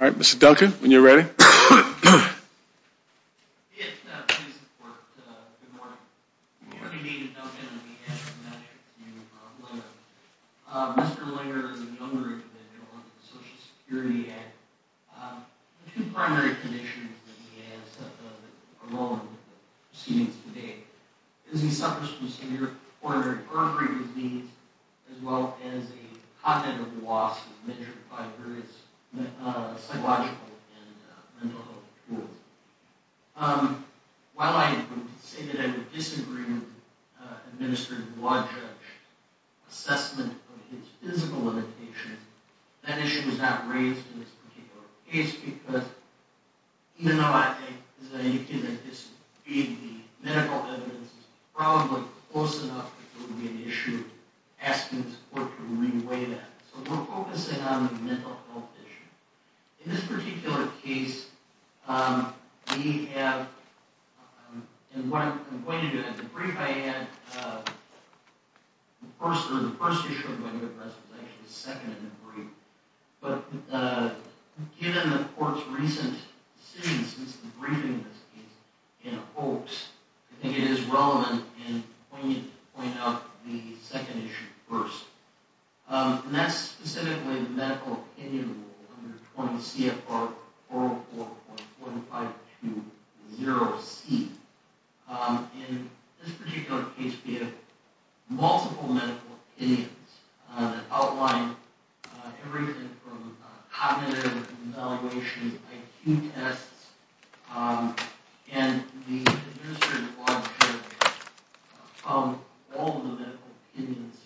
All right, Mr. Duncan, when you're ready. While I say that I would disagree with the administrative law judge's assessment of his physical limitations, that issue is not raised in this particular case because even though I think the medical evidence is probably close enough, it would be an issue asking the court to re-weigh that. So we're focusing on the mental health issue. In this particular case, we have, and what I'm going to do is, in the brief I had, the first issue of the regular press was actually the second in the brief, but given the court's recent decision since the briefing of this case, in a hoax, I think it is relevant and poignant to point out the second issue first. And that's specifically the medical opinion rule under 20 CFR 404.2520C. In this particular case, we have multiple medical opinions that outline everything from cognitive evaluation, IQ tests, and the administrative law judge found all of the medical opinions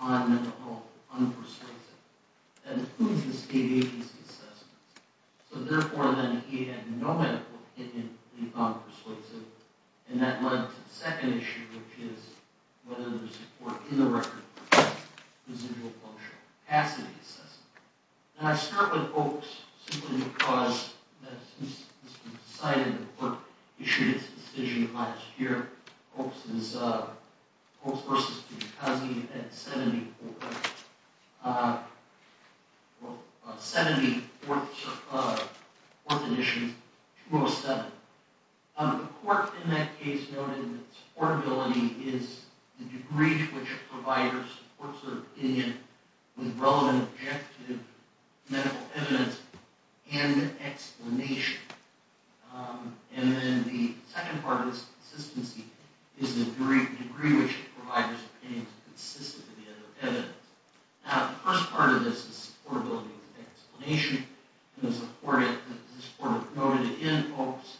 on mental health unpersuasive. That includes the state agency assessment. So therefore, then, he had no medical opinion that he found persuasive, and that led to the second issue, which is whether there's support in the record for residual functional capacity assessment. And I start with hoax, simply because, since it's been decided that the court issued its decision last year, hoax versus fugacity at 74th edition 207. The court in that case noted that supportability is the degree to which a provider supports their opinion with relevant objective medical evidence and explanation. And then the second part of this consistency is the degree to which a provider's opinion is consistent with the other evidence. Now, the first part of this is that supportability is an explanation, and the court noted that in hoax,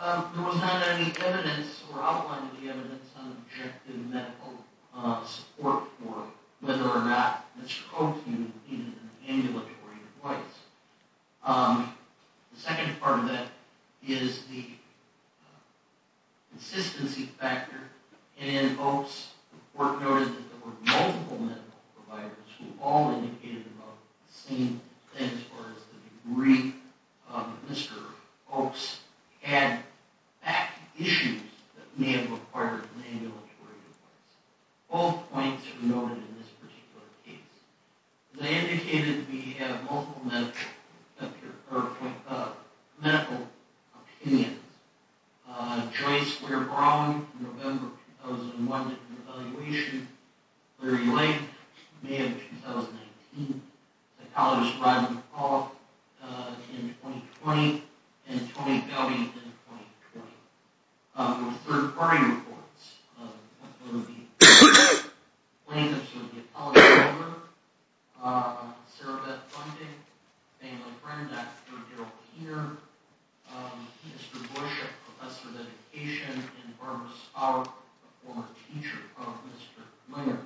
there was not any evidence or outline of the evidence on objective medical support for whether or not Mr. Coates needed an ambulatory device. The second part of that is the consistency factor. And in hoax, the court noted that there were multiple medical providers who all indicated about the same thing as far as the degree of Mr. Coates had issues that may have required an ambulatory device. Both points are noted in this particular case. They indicated we have multiple medical opinions. Joyce Weir-Brown, November 2001, did an evaluation. Larry Lang, May of 2019. Psychologist Rodney McCall, in 2020. And Tony Fowley, in 2020. There were third-party reports. That's one of the plaintiffs was the apologist, Sarah Beth Funding, a family friend, Dr. Gerald Heater, Mr. Bush, a professor of education, and Barbara Spaulder, a former teacher of Mr. Miller.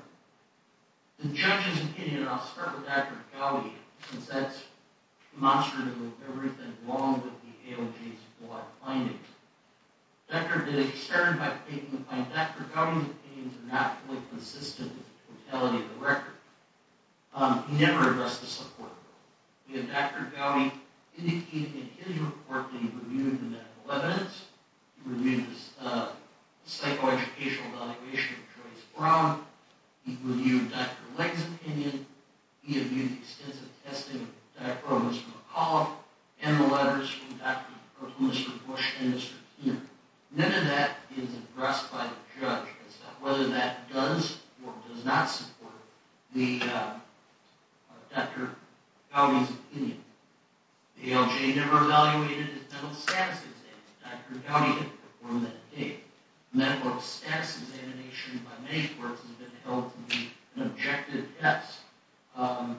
The judge's opinion, and I'll start with Dr. Gowdy, since that's demonstrative of everything wrong with the AOJ's court findings. Dr. Gowdy's opinions are not fully consistent with the totality of the record. He never addressed the support. Dr. Gowdy indicated in his report that he reviewed the medical evidence. He reviewed the psychoeducational evaluation of Joyce Brown. He reviewed Dr. Lang's opinion. He reviewed the extensive testing of Dr. Provost McCall and the letters from Dr. Bush and Mr. Heater. None of that is addressed by the judge. It's not whether that does or does not support Dr. Gowdy's opinion. The AOJ never evaluated his mental status exam. Dr. Gowdy didn't perform that date. Mental status examination by many courts has been held to be an objective test. I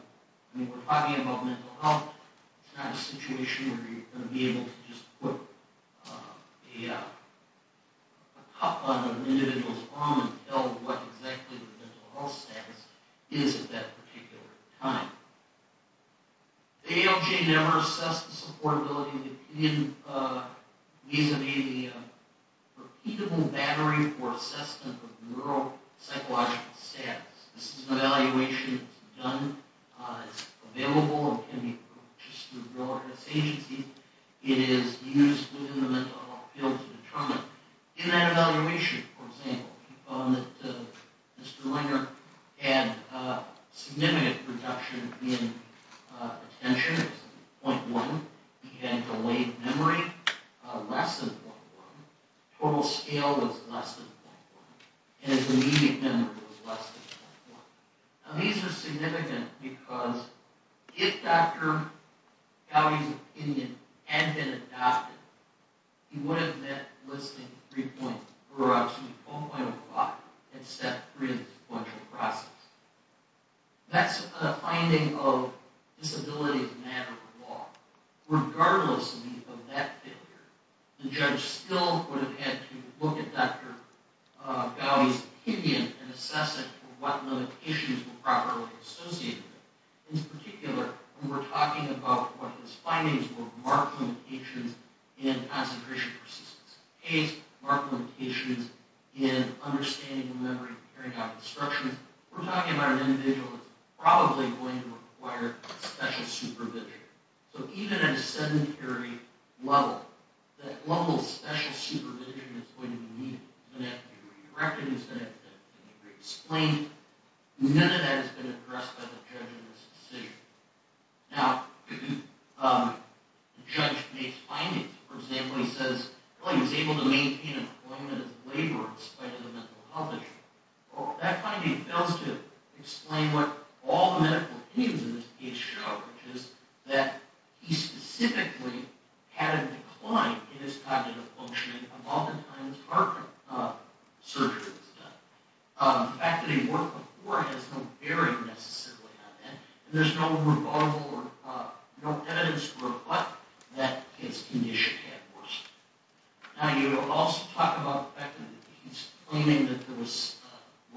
mean, we're talking about mental health. It's not a situation where you're going to be able to just put a cup on an individual's arm and tell what exactly their mental health status is at that particular time. The AOJ never assessed the supportability of the opinion. These may be a repeatable battery for assessment of neuropsychological status. This is an evaluation. It's available. It can be purchased through a real estate agency. It is used within the mental health field to determine. In that evaluation, for example, we found that Mr. Langer had a significant reduction in attention, 0.1. He had delayed memory, less than 0.1. Total scale was less than 0.1. And his immediate memory was less than 0.1. Now, these are significant because if Dr. Gowdy's opinion had been adopted, he would have met Listing 3.0 or actually 4.05 at Step 3 of the sequential process. That's a finding of disability as a matter of law. Regardless of that failure, the judge still would have had to look at Dr. Gowdy's opinion and assess it for what limitations were properly associated with it. In particular, when we're talking about what his findings were marked limitations in concentration persistence case, marked limitations in understanding the memory and carrying out instructions. We're talking about an individual that's probably going to require special supervision. So even at a sedentary level, that level of special supervision is going to be needed. It's going to have to be redirected, it's going to have to be explained. None of that has been addressed by the judge in this decision. Now, the judge makes findings. For example, he says he was able to maintain employment as a laborer in spite of the mental health issue. That finding fails to explain what all the medical opinions in this case show, which is that he specifically had a decline in his cognitive functioning among the times heart surgery was done. The fact that he worked before has no bearing necessarily on that. There's no rebuttal or no evidence to reflect that his condition had worsened. Now, you also talk about the fact that he's claiming that there was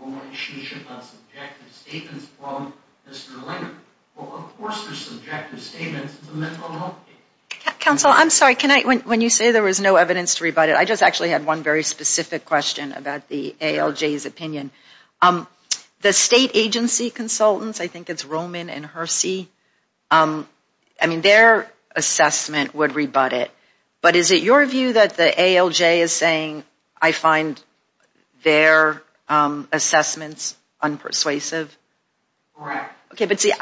no relationship on subjective statements from Mr. Langer. Well, of course there's subjective statements in the mental health case. Counsel, I'm sorry. When you say there was no evidence to rebut it, I just actually had one very specific question about the ALJ's opinion. The state agency consultants, I think it's Roman and Hersey, I mean, their assessment would rebut it. But is it your view that the ALJ is saying I find their assessments unpersuasive? Correct. Okay, but see,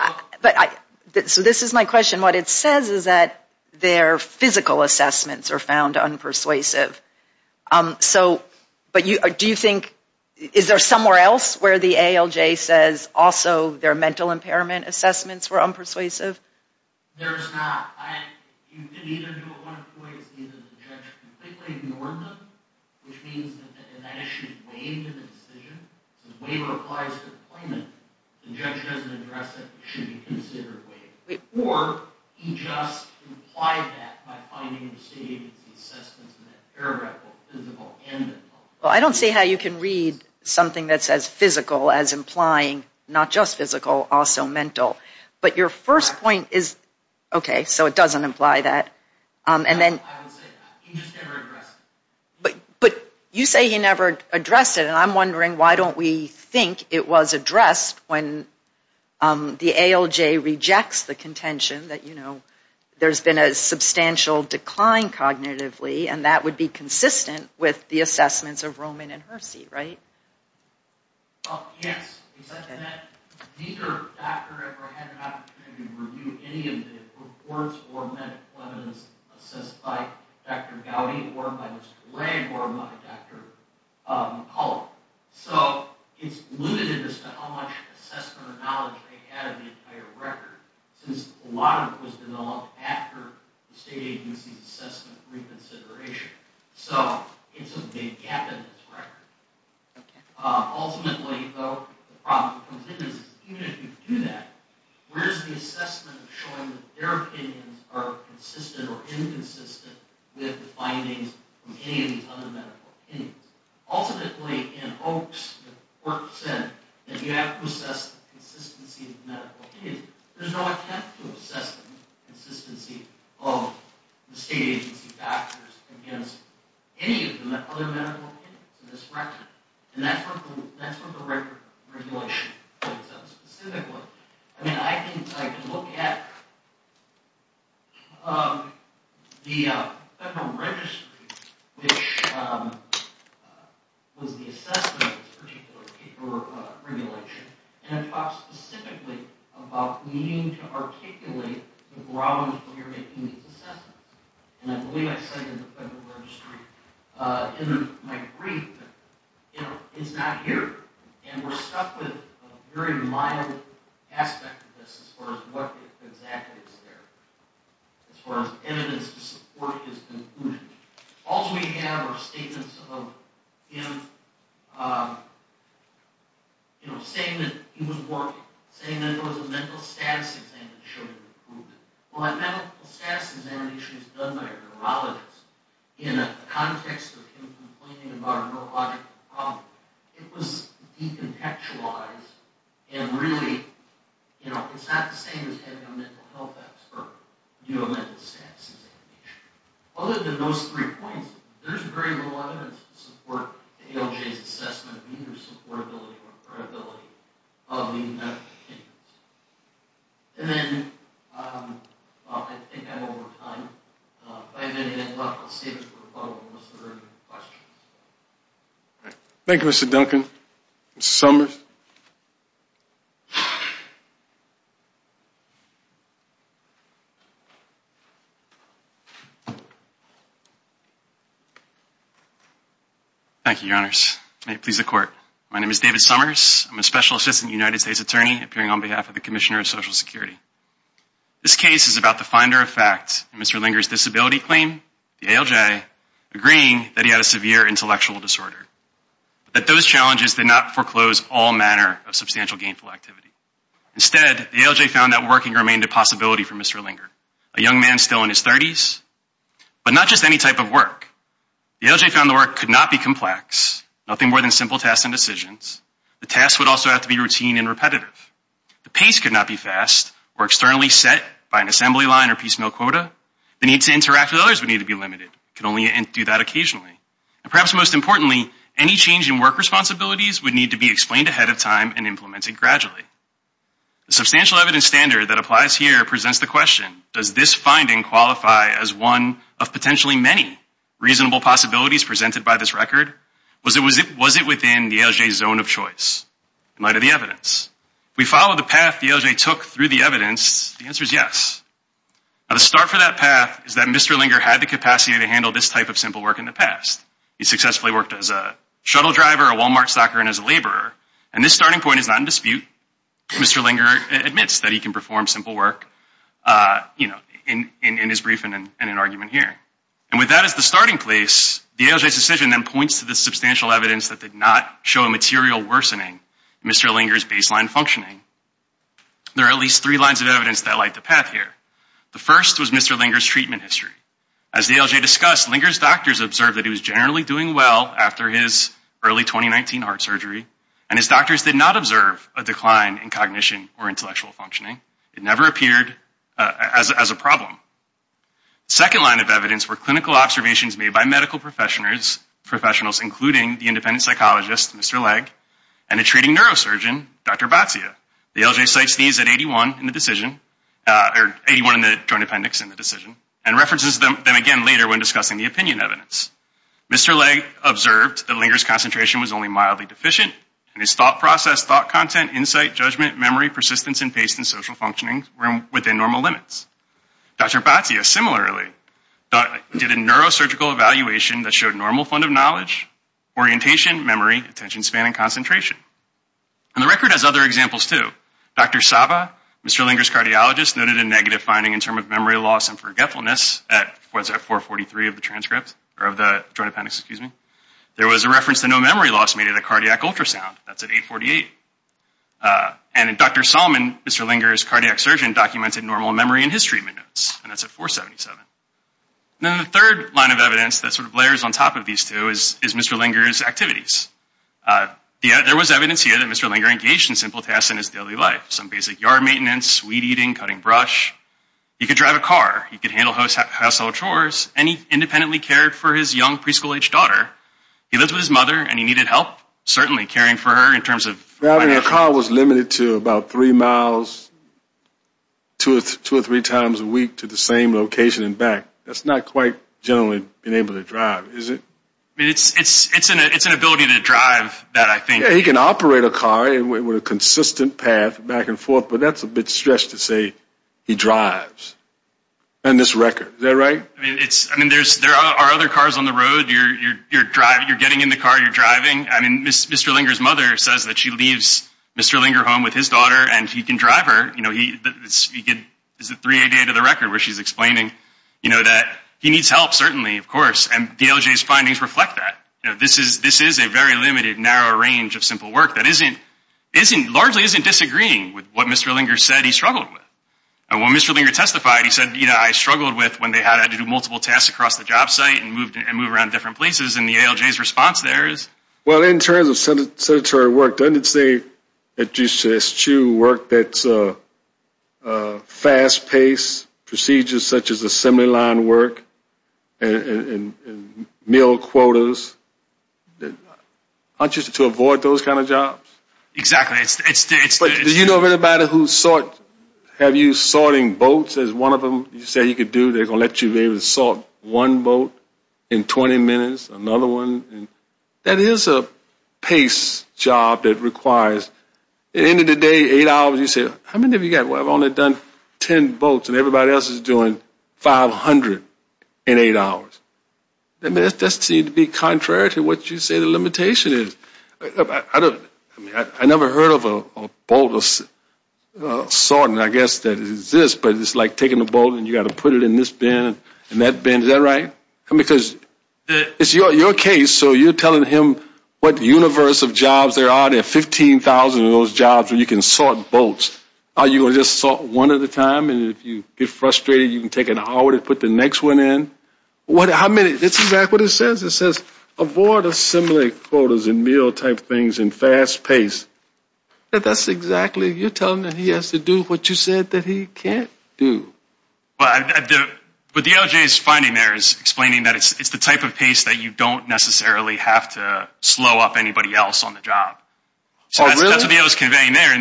so this is my question. What it says is that their physical assessments are found unpersuasive. So, but do you think, is there somewhere else where the ALJ says also their mental impairment assessments were unpersuasive? There's not. You can either do it one of two ways. Either the judge completely ignored them, which means that that issue is waived in the decision. So if waiver applies to employment, the judge doesn't address it, it should be considered waived. Or he just implied that by finding the state agency assessments in that paragraph both physical and mental. Well, I don't see how you can read something that says physical as implying not just physical, also mental. But your first point is, okay, so it doesn't imply that. I would say that. He just never addressed it. But you say he never addressed it, and I'm wondering why don't we think it was addressed when the ALJ rejects the contention that, you know, there's been a substantial decline cognitively, and that would be consistent with the assessments of Roman and Hersey, right? Well, yes. He said that neither doctor ever had an opportunity to review any of the reports or medical evidence assessed by Dr. Gowdy or by Mr. Lang or by Dr. McCullough. So it's alluded to just how much assessment or knowledge they had of the entire record, since a lot of it was developed after the state agency's assessment reconsideration. So it's a big gap in this record. Ultimately, though, the problem that comes in is even if you do that, where's the assessment of showing that their opinions are consistent or inconsistent with the findings of any of these other medical opinions? Ultimately, in hopes that work said that you have to assess the consistency of medical opinions, there's no attempt to assess the consistency of the state agency factors against any of the other medical opinions in this record, and that's what the regulation points out specifically. I mean, I can look at the Federal Registry, which was the assessment of this particular paper regulation, and it talks specifically about needing to articulate the ground when you're making these assessments, and I believe I cited the Federal Registry in my brief that it's not here, and we're stuck with a very mild aspect of this as far as what exactly is there, as far as evidence to support his conclusion. All we have are statements of him, you know, saying that he was working, saying that there was a mental status exam that showed an improvement. Well, a mental status examination is done by a neurologist. In the context of him complaining about a neurological problem, it was decontextualized, and really, you know, it's not the same as having a mental health expert do a mental status examination. Other than those three points, there's very little evidence to support the ALJ's assessment of either supportability or credibility of the medical opinions. And then I think I'm over time, but I'm going to hand it off. I'll save it for the follow-up of most of the questions. Thank you, Mr. Duncan. Mr. Summers? Thank you, Your Honors. May it please the Court. My name is David Summers. I'm a Special Assistant United States Attorney appearing on behalf of the Commissioner of Social Security. This case is about the finder of fact in Mr. Linger's disability claim, the ALJ, agreeing that he had a severe intellectual disorder, but that those challenges did not foreclose all manner of substantial gainful activity. Instead, the ALJ found that working remained a possibility for Mr. Linger, a young man still in his 30s, but not just any type of work. The ALJ found the work could not be complex, nothing more than simple tasks and decisions. The tasks would also have to be routine and repetitive. The pace could not be fast or externally set by an assembly line or piecemeal quota. The need to interact with others would need to be limited. It could only do that occasionally. And perhaps most importantly, any change in work responsibilities would need to be explained ahead of time and implemented gradually. The substantial evidence standard that applies here presents the question, does this finding qualify as one of potentially many reasonable possibilities presented by this record? Was it within the ALJ's zone of choice in light of the evidence? If we follow the path the ALJ took through the evidence, the answer is yes. Now, the start for that path is that Mr. Linger had the capacity to handle this type of simple work in the past. He successfully worked as a shuttle driver, a Walmart stocker, and as a laborer. And this starting point is not in dispute. Mr. Linger admits that he can perform simple work, you know, in his briefing and in an argument here. And with that as the starting place, the ALJ's decision then points to the substantial evidence that did not show a material worsening in Mr. Linger's baseline functioning. There are at least three lines of evidence that light the path here. The first was Mr. Linger's treatment history. As the ALJ discussed, Linger's doctors observed that he was generally doing well after his early 2019 heart surgery, and his doctors did not observe a decline in cognition or intellectual functioning. It never appeared as a problem. The second line of evidence were clinical observations made by medical professionals, including the independent psychologist, Mr. Legg, and a treating neurosurgeon, Dr. Batia. The ALJ cites these at 81 in the decision, or 81 in the joint appendix in the decision, and references them again later when discussing the opinion evidence. Mr. Legg observed that Linger's concentration was only mildly deficient, and his thought process, thought content, insight, judgment, memory, persistence, and pace in social functioning were within normal limits. Dr. Batia, similarly, did a neurosurgical evaluation that showed normal fund of knowledge, orientation, memory, attention span, and concentration. And the record has other examples, too. Dr. Saba, Mr. Linger's cardiologist, noted a negative finding in terms of memory loss and forgetfulness at 443 of the transcript, or of the joint appendix, excuse me. There was a reference to no memory loss made at a cardiac ultrasound. That's at 848. And Dr. Salmon, Mr. Linger's cardiac surgeon, documented normal memory in his treatment notes, and that's at 477. And then the third line of evidence that sort of layers on top of these two is Mr. Linger's activities. There was evidence here that Mr. Linger engaged in simple tasks in his daily life, some basic yard maintenance, weed eating, cutting brush. He could drive a car, he could handle household chores, and he independently cared for his young preschool-aged daughter. He lived with his mother, and he needed help, certainly, caring for her in terms of... Driving a car was limited to about three miles two or three times a week to the same location and back. That's not quite generally being able to drive, is it? I mean, it's an ability to drive that I think... Yeah, he can operate a car with a consistent path back and forth, but that's a bit stressed to say he drives on this record. Is that right? I mean, there are other cars on the road. You're getting in the car, you're driving. I mean, Mr. Linger's mother says that she leaves Mr. Linger home with his daughter, and he can drive her. This is a 388 of the record where she's explaining that he needs help, certainly, of course, and DLJ's findings reflect that. This is a very limited, narrow range of simple work that isn't... Largely isn't disagreeing with what Mr. Linger said he struggled with. Well, when Mr. Linger testified, he said, you know, I struggled with when they had to do multiple tasks across the job site and move around different places, and the ALJ's response there is... Well, in terms of sedentary work, doesn't it say at GCS2 work that's fast-paced procedures such as assembly line work and mill quotas? Aren't you supposed to avoid those kind of jobs? Exactly. But do you know of anybody who sort... Have you sorting boats as one of them? You say you could do... They're going to let you be able to sort one boat in 20 minutes, another one... That is a pace job that requires... At the end of the day, eight hours, you say, how many have you got? Well, I've only done 10 boats, and everybody else is doing 500 in eight hours. I mean, that seems to be contrary to what you say the limitation is. I never heard of a boat sorting, I guess, that exists, but it's like taking a boat and you've got to put it in this bin and that bin. Is that right? Because it's your case, so you're telling him what universe of jobs there are. There are 15,000 of those jobs where you can sort boats. Are you going to just sort one at a time, and if you get frustrated, you can take an hour to put the next one in? How many... That's exactly what it says. It says, avoid assembly quarters and meal-type things and fast pace. That's exactly... You're telling him that he has to do what you said that he can't do. But what the ALJ is finding there is explaining that it's the type of pace that you don't necessarily have to slow up anybody else on the job. Oh, really? That's what the ALJ is conveying there.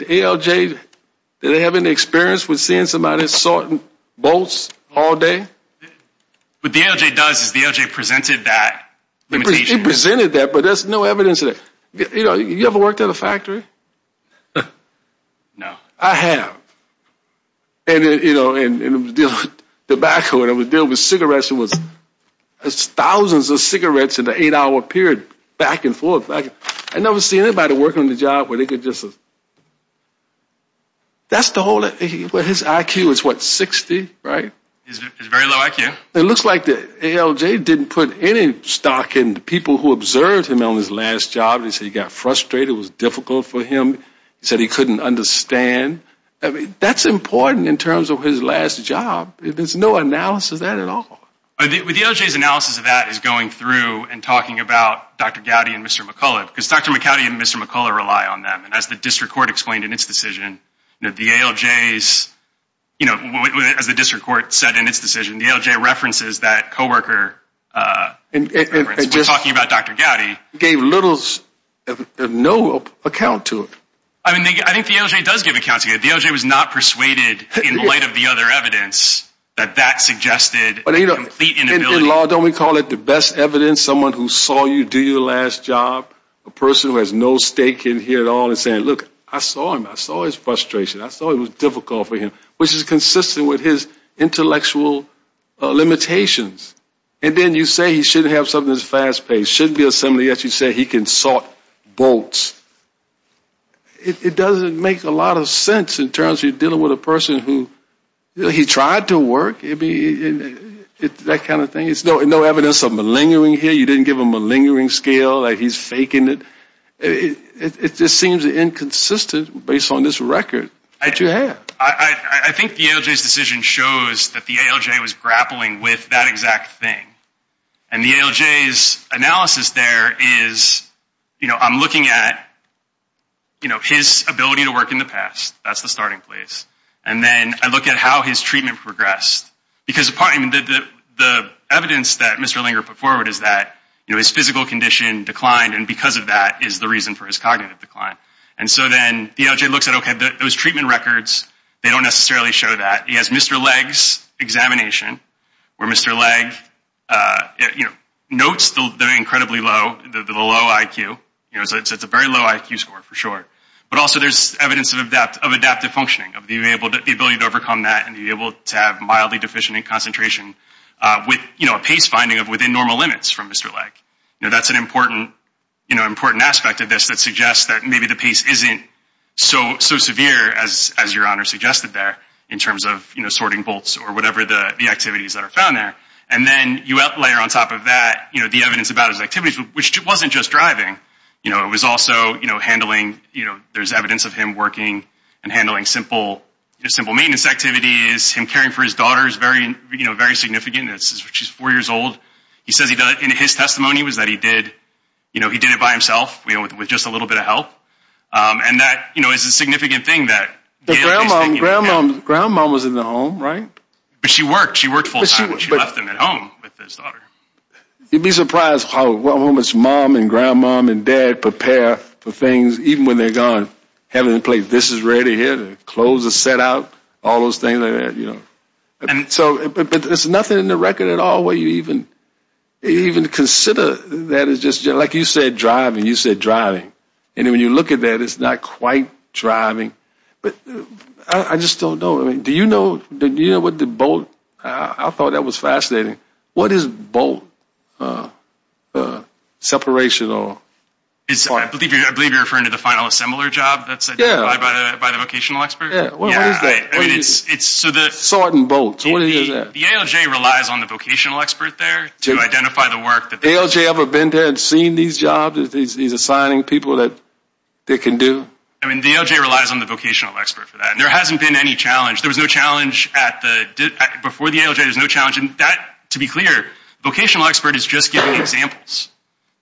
The ALJ, do they have any experience with seeing somebody sorting boats all day? What the ALJ does is the ALJ presented that. It presented that, but there's no evidence of it. You know, you ever worked at a factory? No. I have. And, you know, in tobacco, when I was dealing with cigarettes, it was thousands of cigarettes in an eight-hour period, back and forth. I never seen anybody work on the job where they could just... That's the whole... His IQ is, what, 60, right? He has a very low IQ. It looks like the ALJ didn't put any stock in the people who observed him on his last job. He said he got frustrated, it was difficult for him. He said he couldn't understand. That's important in terms of his last job. There's no analysis of that at all. The ALJ's analysis of that is going through and talking about Dr. Gowdy and Mr. McCullough because Dr. McCowdy and Mr. McCullough rely on them, and as the district court explained in its decision, the ALJ's, you know, as the district court said in its decision, the ALJ references that co-worker reference when talking about Dr. Gowdy. It gave little, no account to it. I mean, I think the ALJ does give account to it. The ALJ was not persuaded, in light of the other evidence, that that suggested a complete inability... In law, don't we call it the best evidence? Someone who saw you do your last job, a person who has no stake in here at all, and saying, look, I saw him. I saw his frustration. I saw it was difficult for him, which is consistent with his intellectual limitations. And then you say he shouldn't have something that's fast-paced, shouldn't be assembly, yet you say he can sort votes. It doesn't make a lot of sense in terms of dealing with a person who, you know, he tried to work, that kind of thing. There's no evidence of malingering here. You didn't give him a malingering scale, like he's faking it. It just seems inconsistent based on this record that you have. I think the ALJ's decision shows that the ALJ was grappling with that exact thing. And the ALJ's analysis there is, you know, I'm looking at, you know, his ability to work in the past. That's the starting place. And then I look at how his treatment progressed. Because the evidence that Mr. Linger put forward is that, you know, his physical condition declined, and because of that is the reason for his cognitive decline. And so then the ALJ looks at, okay, those treatment records, they don't necessarily show that. He has Mr. Legg's examination, where Mr. Legg, you know, notes the incredibly low IQ. You know, it's a very low IQ score for sure. But also there's evidence of adaptive functioning, of the ability to overcome that and be able to have mildly deficient in concentration with, you know, a pace finding of within normal limits from Mr. Legg. You know, that's an important, you know, important aspect of this that suggests that maybe the pace isn't so severe as Your Honor suggested there in terms of, you know, sorting bolts or whatever the activities that are found there. And then you layer on top of that, you know, the evidence about his activities, which wasn't just driving. You know, it was also, you know, handling, you know, there's evidence of him working and handling simple maintenance activities, him caring for his daughter is very, you know, very significant. She's four years old. He says in his testimony was that he did, you know, he did it by himself, you know, with just a little bit of help. And that, you know, is a significant thing that Gail is thinking about. Grandmom was in the home, right? But she worked. She worked full time, but she left him at home with his daughter. You'd be surprised how much mom and grandmom and dad prepare for things, even when they're gone, having to play this is ready here, the clothes are set out, all those things like that, you know. But there's nothing in the record at all where you even consider that as just, like you said, driving. You said driving. And when you look at that, it's not quite driving. But I just don't know. I mean, do you know what the bolt, I thought that was fascinating. What is bolt separation or? I believe you're referring to the final assembler job. Yeah. By the vocational expert. Yeah. Sorting bolts. What is that? The ALJ relies on the vocational expert there to identify the work. The ALJ ever been there and seen these jobs, these assigning people that they can do? I mean, the ALJ relies on the vocational expert for that. And there hasn't been any challenge. There was no challenge at the, before the ALJ, there was no challenge. And that, to be clear, vocational expert is just giving examples.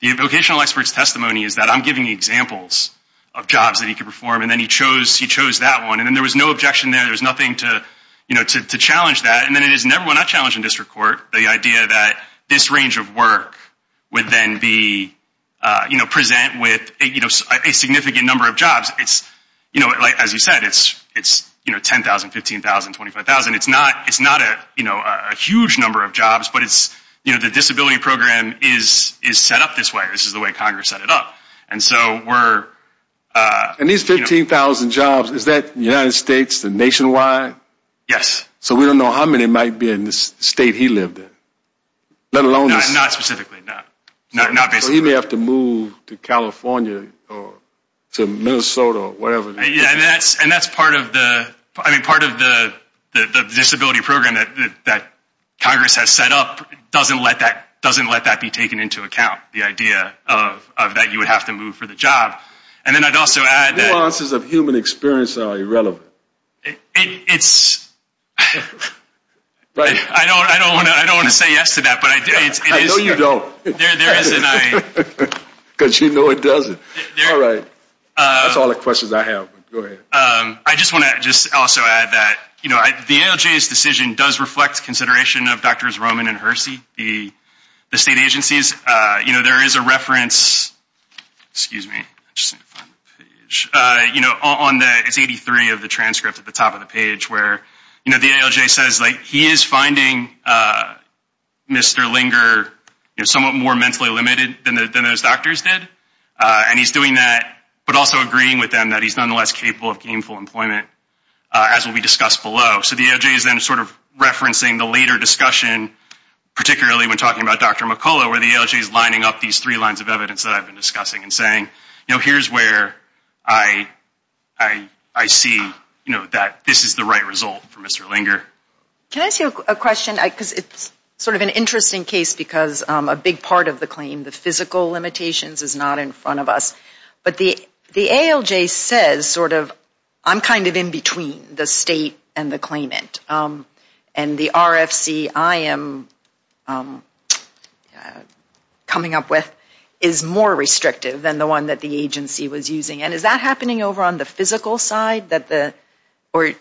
The vocational expert's testimony is that I'm giving examples of jobs that he could perform. And then he chose that one. And there was no objection there. There was nothing to challenge that. And then it is never one I challenge in district court, the idea that this range of work would then be, present with a significant number of jobs. As you said, it's 10,000, 15,000, 25,000. It's not a huge number of jobs. But the disability program is set up this way. This is the way Congress set it up. And these 15,000 jobs, is that United States and nationwide? Yes. So we don't know how many might be in the state he lived in. Not specifically. So he may have to move to California or to Minnesota or whatever. And that's part of the disability program that Congress has set up. It doesn't let that be taken into account, the idea that you would have to move for the job. And then I'd also add that. Nuances of human experience are irrelevant. It's. I don't want to say yes to that. I know you don't. Because you know it doesn't. All right. That's all the questions I have. Go ahead. I just want to just also add that, you know, the ALJ's decision does reflect consideration of doctors Roman and Hersey, the state agencies. You know, there is a reference. Excuse me. You know, on the. It's 83 of the transcript at the top of the page where, you know, the ALJ says, like, he is finding Mr. Linger somewhat more mentally limited than those doctors did. And he's doing that, but also agreeing with them that he's nonetheless capable of gainful employment, as will be discussed below. So the ALJ is then sort of referencing the later discussion, particularly when talking about Dr. McCullough, where the ALJ is lining up these three lines of evidence that I've been discussing and saying, you know, here's where I see, you know, that this is the right result for Mr. Linger. Can I ask you a question? Because it's sort of an interesting case because a big part of the claim, the physical limitations, is not in front of us. But the ALJ says sort of, I'm kind of in between the state and the claimant. And the RFC I am coming up with is more restrictive than the one that the agency was using. And is that happening over on the physical side? Let me.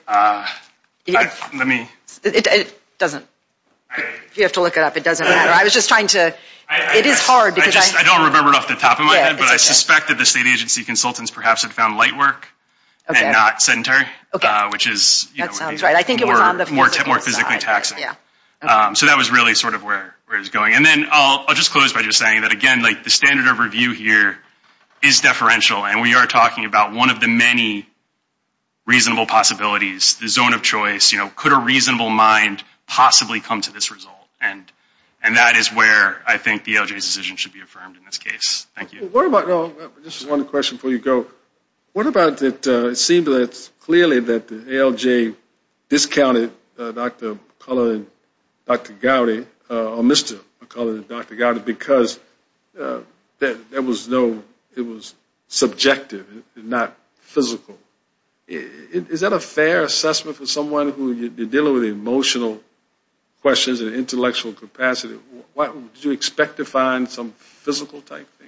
It doesn't. If you have to look it up, it doesn't matter. I was just trying to. It is hard. I don't remember it off the top of my head, but I suspect that the state agency consultants perhaps have found light work and not center, which is more physically taxing. So that was really sort of where it was going. And then I'll just close by just saying that, again, like the standard of review here is deferential. And we are talking about one of the many reasonable possibilities, the zone of choice, you know, could a reasonable mind possibly come to this result? And that is where I think the ALJ's decision should be affirmed in this case. Thank you. Just one question before you go. What about it seemed that clearly that the ALJ discounted Dr. McCullough and Dr. Gowdy or Mr. McCullough and Dr. Gowdy because there was no, it was subjective and not physical. Is that a fair assessment for someone who you're dealing with emotional questions and intellectual capacity? Did you expect to find some physical type thing?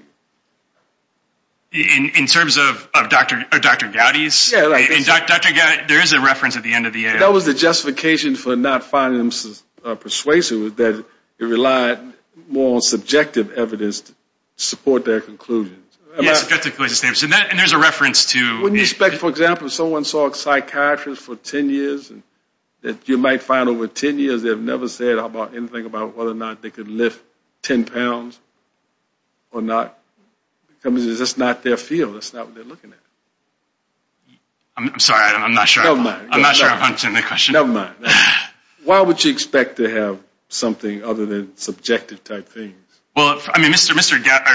In terms of Dr. Gowdy's, there is a reference at the end of the ALJ. That was the justification for not finding them persuasive was that it relied more on subjective evidence to support their conclusions. Yes, subjective evidence. And there's a reference to. Wouldn't you expect, for example, if someone saw a psychiatrist for 10 years that you might find over 10 years they've never said anything about whether or not they could lift 10 pounds or not? Because that's not their field. That's not what they're looking at. I'm sorry. I'm not sure. I'm not sure I'm answering the question. Never mind. Why would you expect to have something other than subjective type things? Well, I mean,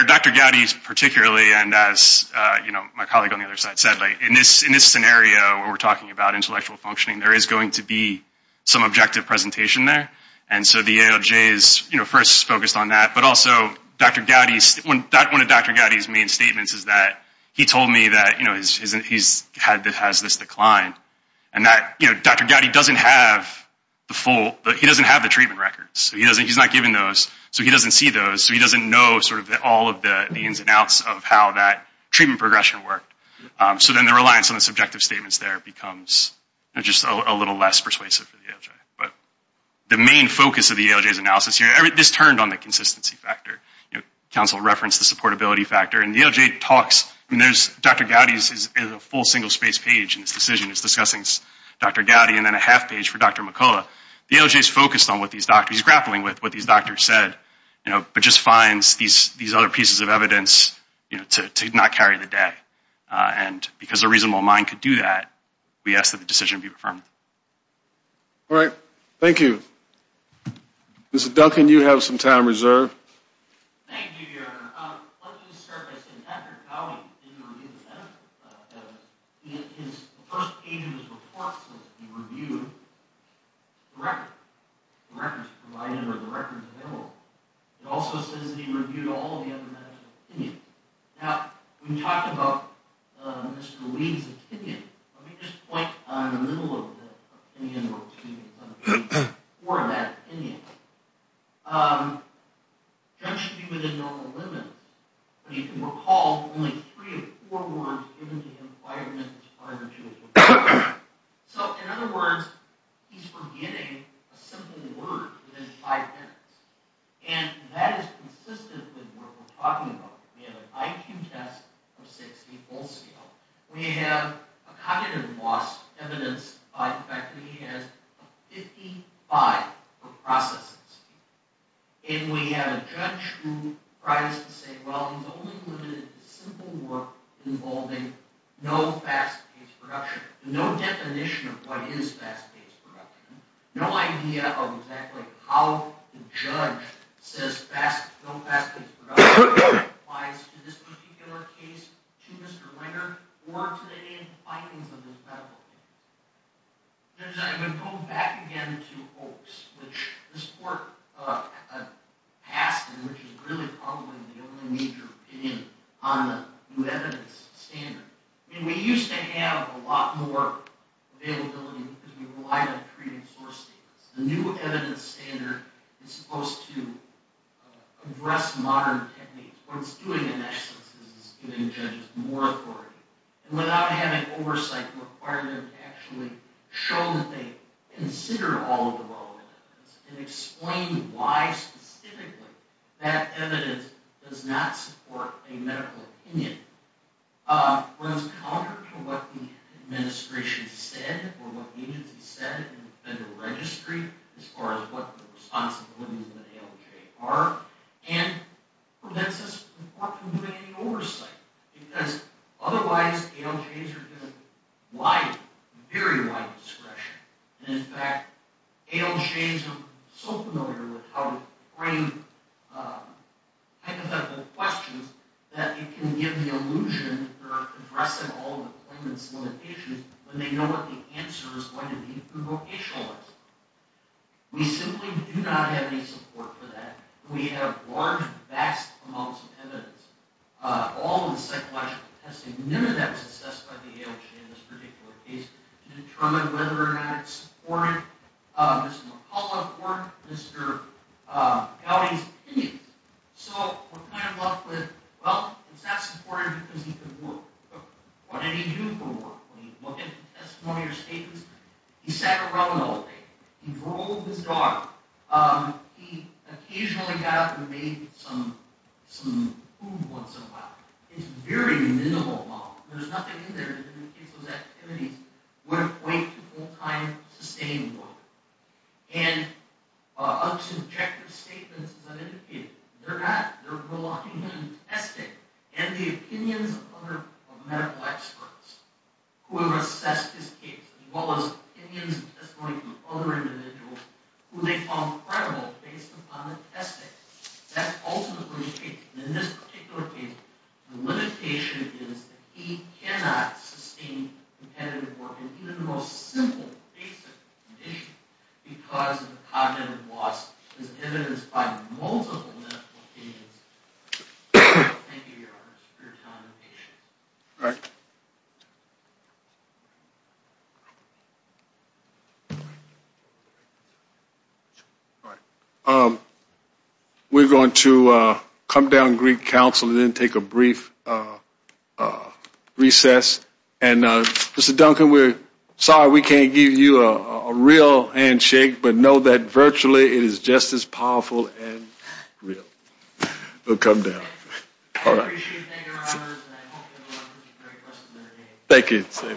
Dr. Gowdy's particularly, and as my colleague on the other side said, in this scenario where we're talking about intellectual functioning, there is going to be some objective presentation there. And so the ALJ is first focused on that. But also Dr. Gowdy's, one of Dr. Gowdy's main statements is that he told me that he has this decline and that Dr. Gowdy doesn't have the full, he doesn't have the treatment records. So he's not given those. So he doesn't see those. So he doesn't know sort of all of the ins and outs of how that treatment progression worked. So then the reliance on the subjective statements there becomes just a little less persuasive for the ALJ. But the main focus of the ALJ's analysis here, this turned on the consistency factor. Council referenced the supportability factor. And the ALJ talks, and there's Dr. Gowdy's is a full single space page in this decision. It's discussing Dr. Gowdy and then a half page for Dr. McCullough. So the ALJ is focused on what these doctors, grappling with what these doctors said. But just finds these other pieces of evidence to not carry the day. And because a reasonable mind could do that, we ask that the decision be affirmed. All right. Thank you. Mr. Duncan, you have some time reserved. Thank you, Your Honor. Let me start by saying Dr. Gowdy didn't review the medical evidence. The first page of his report says that he reviewed the record, the records provided or the records available. It also says that he reviewed all of the other medical opinions. Now, we talked about Mr. Lee's opinion. Let me just point in the middle of the opinion or two or that opinion. Dr. Gowdy should be within normal limits. But you can recall only three or four words given to him prior to his report. So, in other words, he's forgetting a simple word within five minutes. And that is consistent with what we're talking about. We have an IQ test of 60 full scale. We have a cognitive loss evidence by the fact that he has 55 processes. And we have a judge who tries to say, well, he's only limited to simple work involving no fast-paced production, no definition of what is fast-paced production, no idea of exactly how the judge says no fast-paced production applies to this particular case, to Mr. Linder, or to the findings of this medical opinion. I'm going to go back again to Oakes, which this court passed and which is really probably the only major opinion on the new evidence standard. I mean, we used to have a lot more availability because we relied on treating source statements. The new evidence standard is supposed to address modern techniques. What it's doing, in essence, is giving judges more authority. And without having an oversight requirement to actually show that they consider all of the relevant evidence and explain why specifically that evidence does not support a medical opinion. It runs counter to what the administration said or what the agency said in the federal registry, as far as what the responsibilities of the ALJ are, and prevents us from providing oversight. Because otherwise, ALJs are given wide, very wide discretion. And in fact, ALJs are so familiar with how to frame hypothetical questions, that it can give the illusion that they're addressing all of the claimants' limitations when they know what the answer is going to be, the vocational answer. We simply do not have any support for that. We have large, vast amounts of evidence, all in psychological testing. And none of that was assessed by the ALJ in this particular case to determine whether or not it supported Mr. McCullough or Mr. Gowdy's opinions. So we're kind of left with, well, it's not supported because he couldn't look. But what did he do for work? When you look at the testimony or statements, he sat around all day. He drove his dog. He occasionally got up and made some food once in a while. It's a very minimal amount. There's nothing in there that indicates those activities were quite full-time, sustained work. And unsubjective statements, as I've indicated, they're not. They're relying on the testing and the opinions of other medical experts, whoever assessed his case, as well as opinions and testimony from other individuals, who they found credible based upon the testing. That's ultimately the case. In this particular case, the limitation is that he cannot sustain competitive work in even the most simple, basic condition because the cognitive loss is evidenced by multiple medical opinions. Thank you, Your Honors, for your time and patience. All right. We're going to come down and greet counsel and then take a brief recess. And, Mr. Duncan, we're sorry we can't give you a real handshake, but know that virtually it is just as powerful and real. We'll come down. All right. Thank you.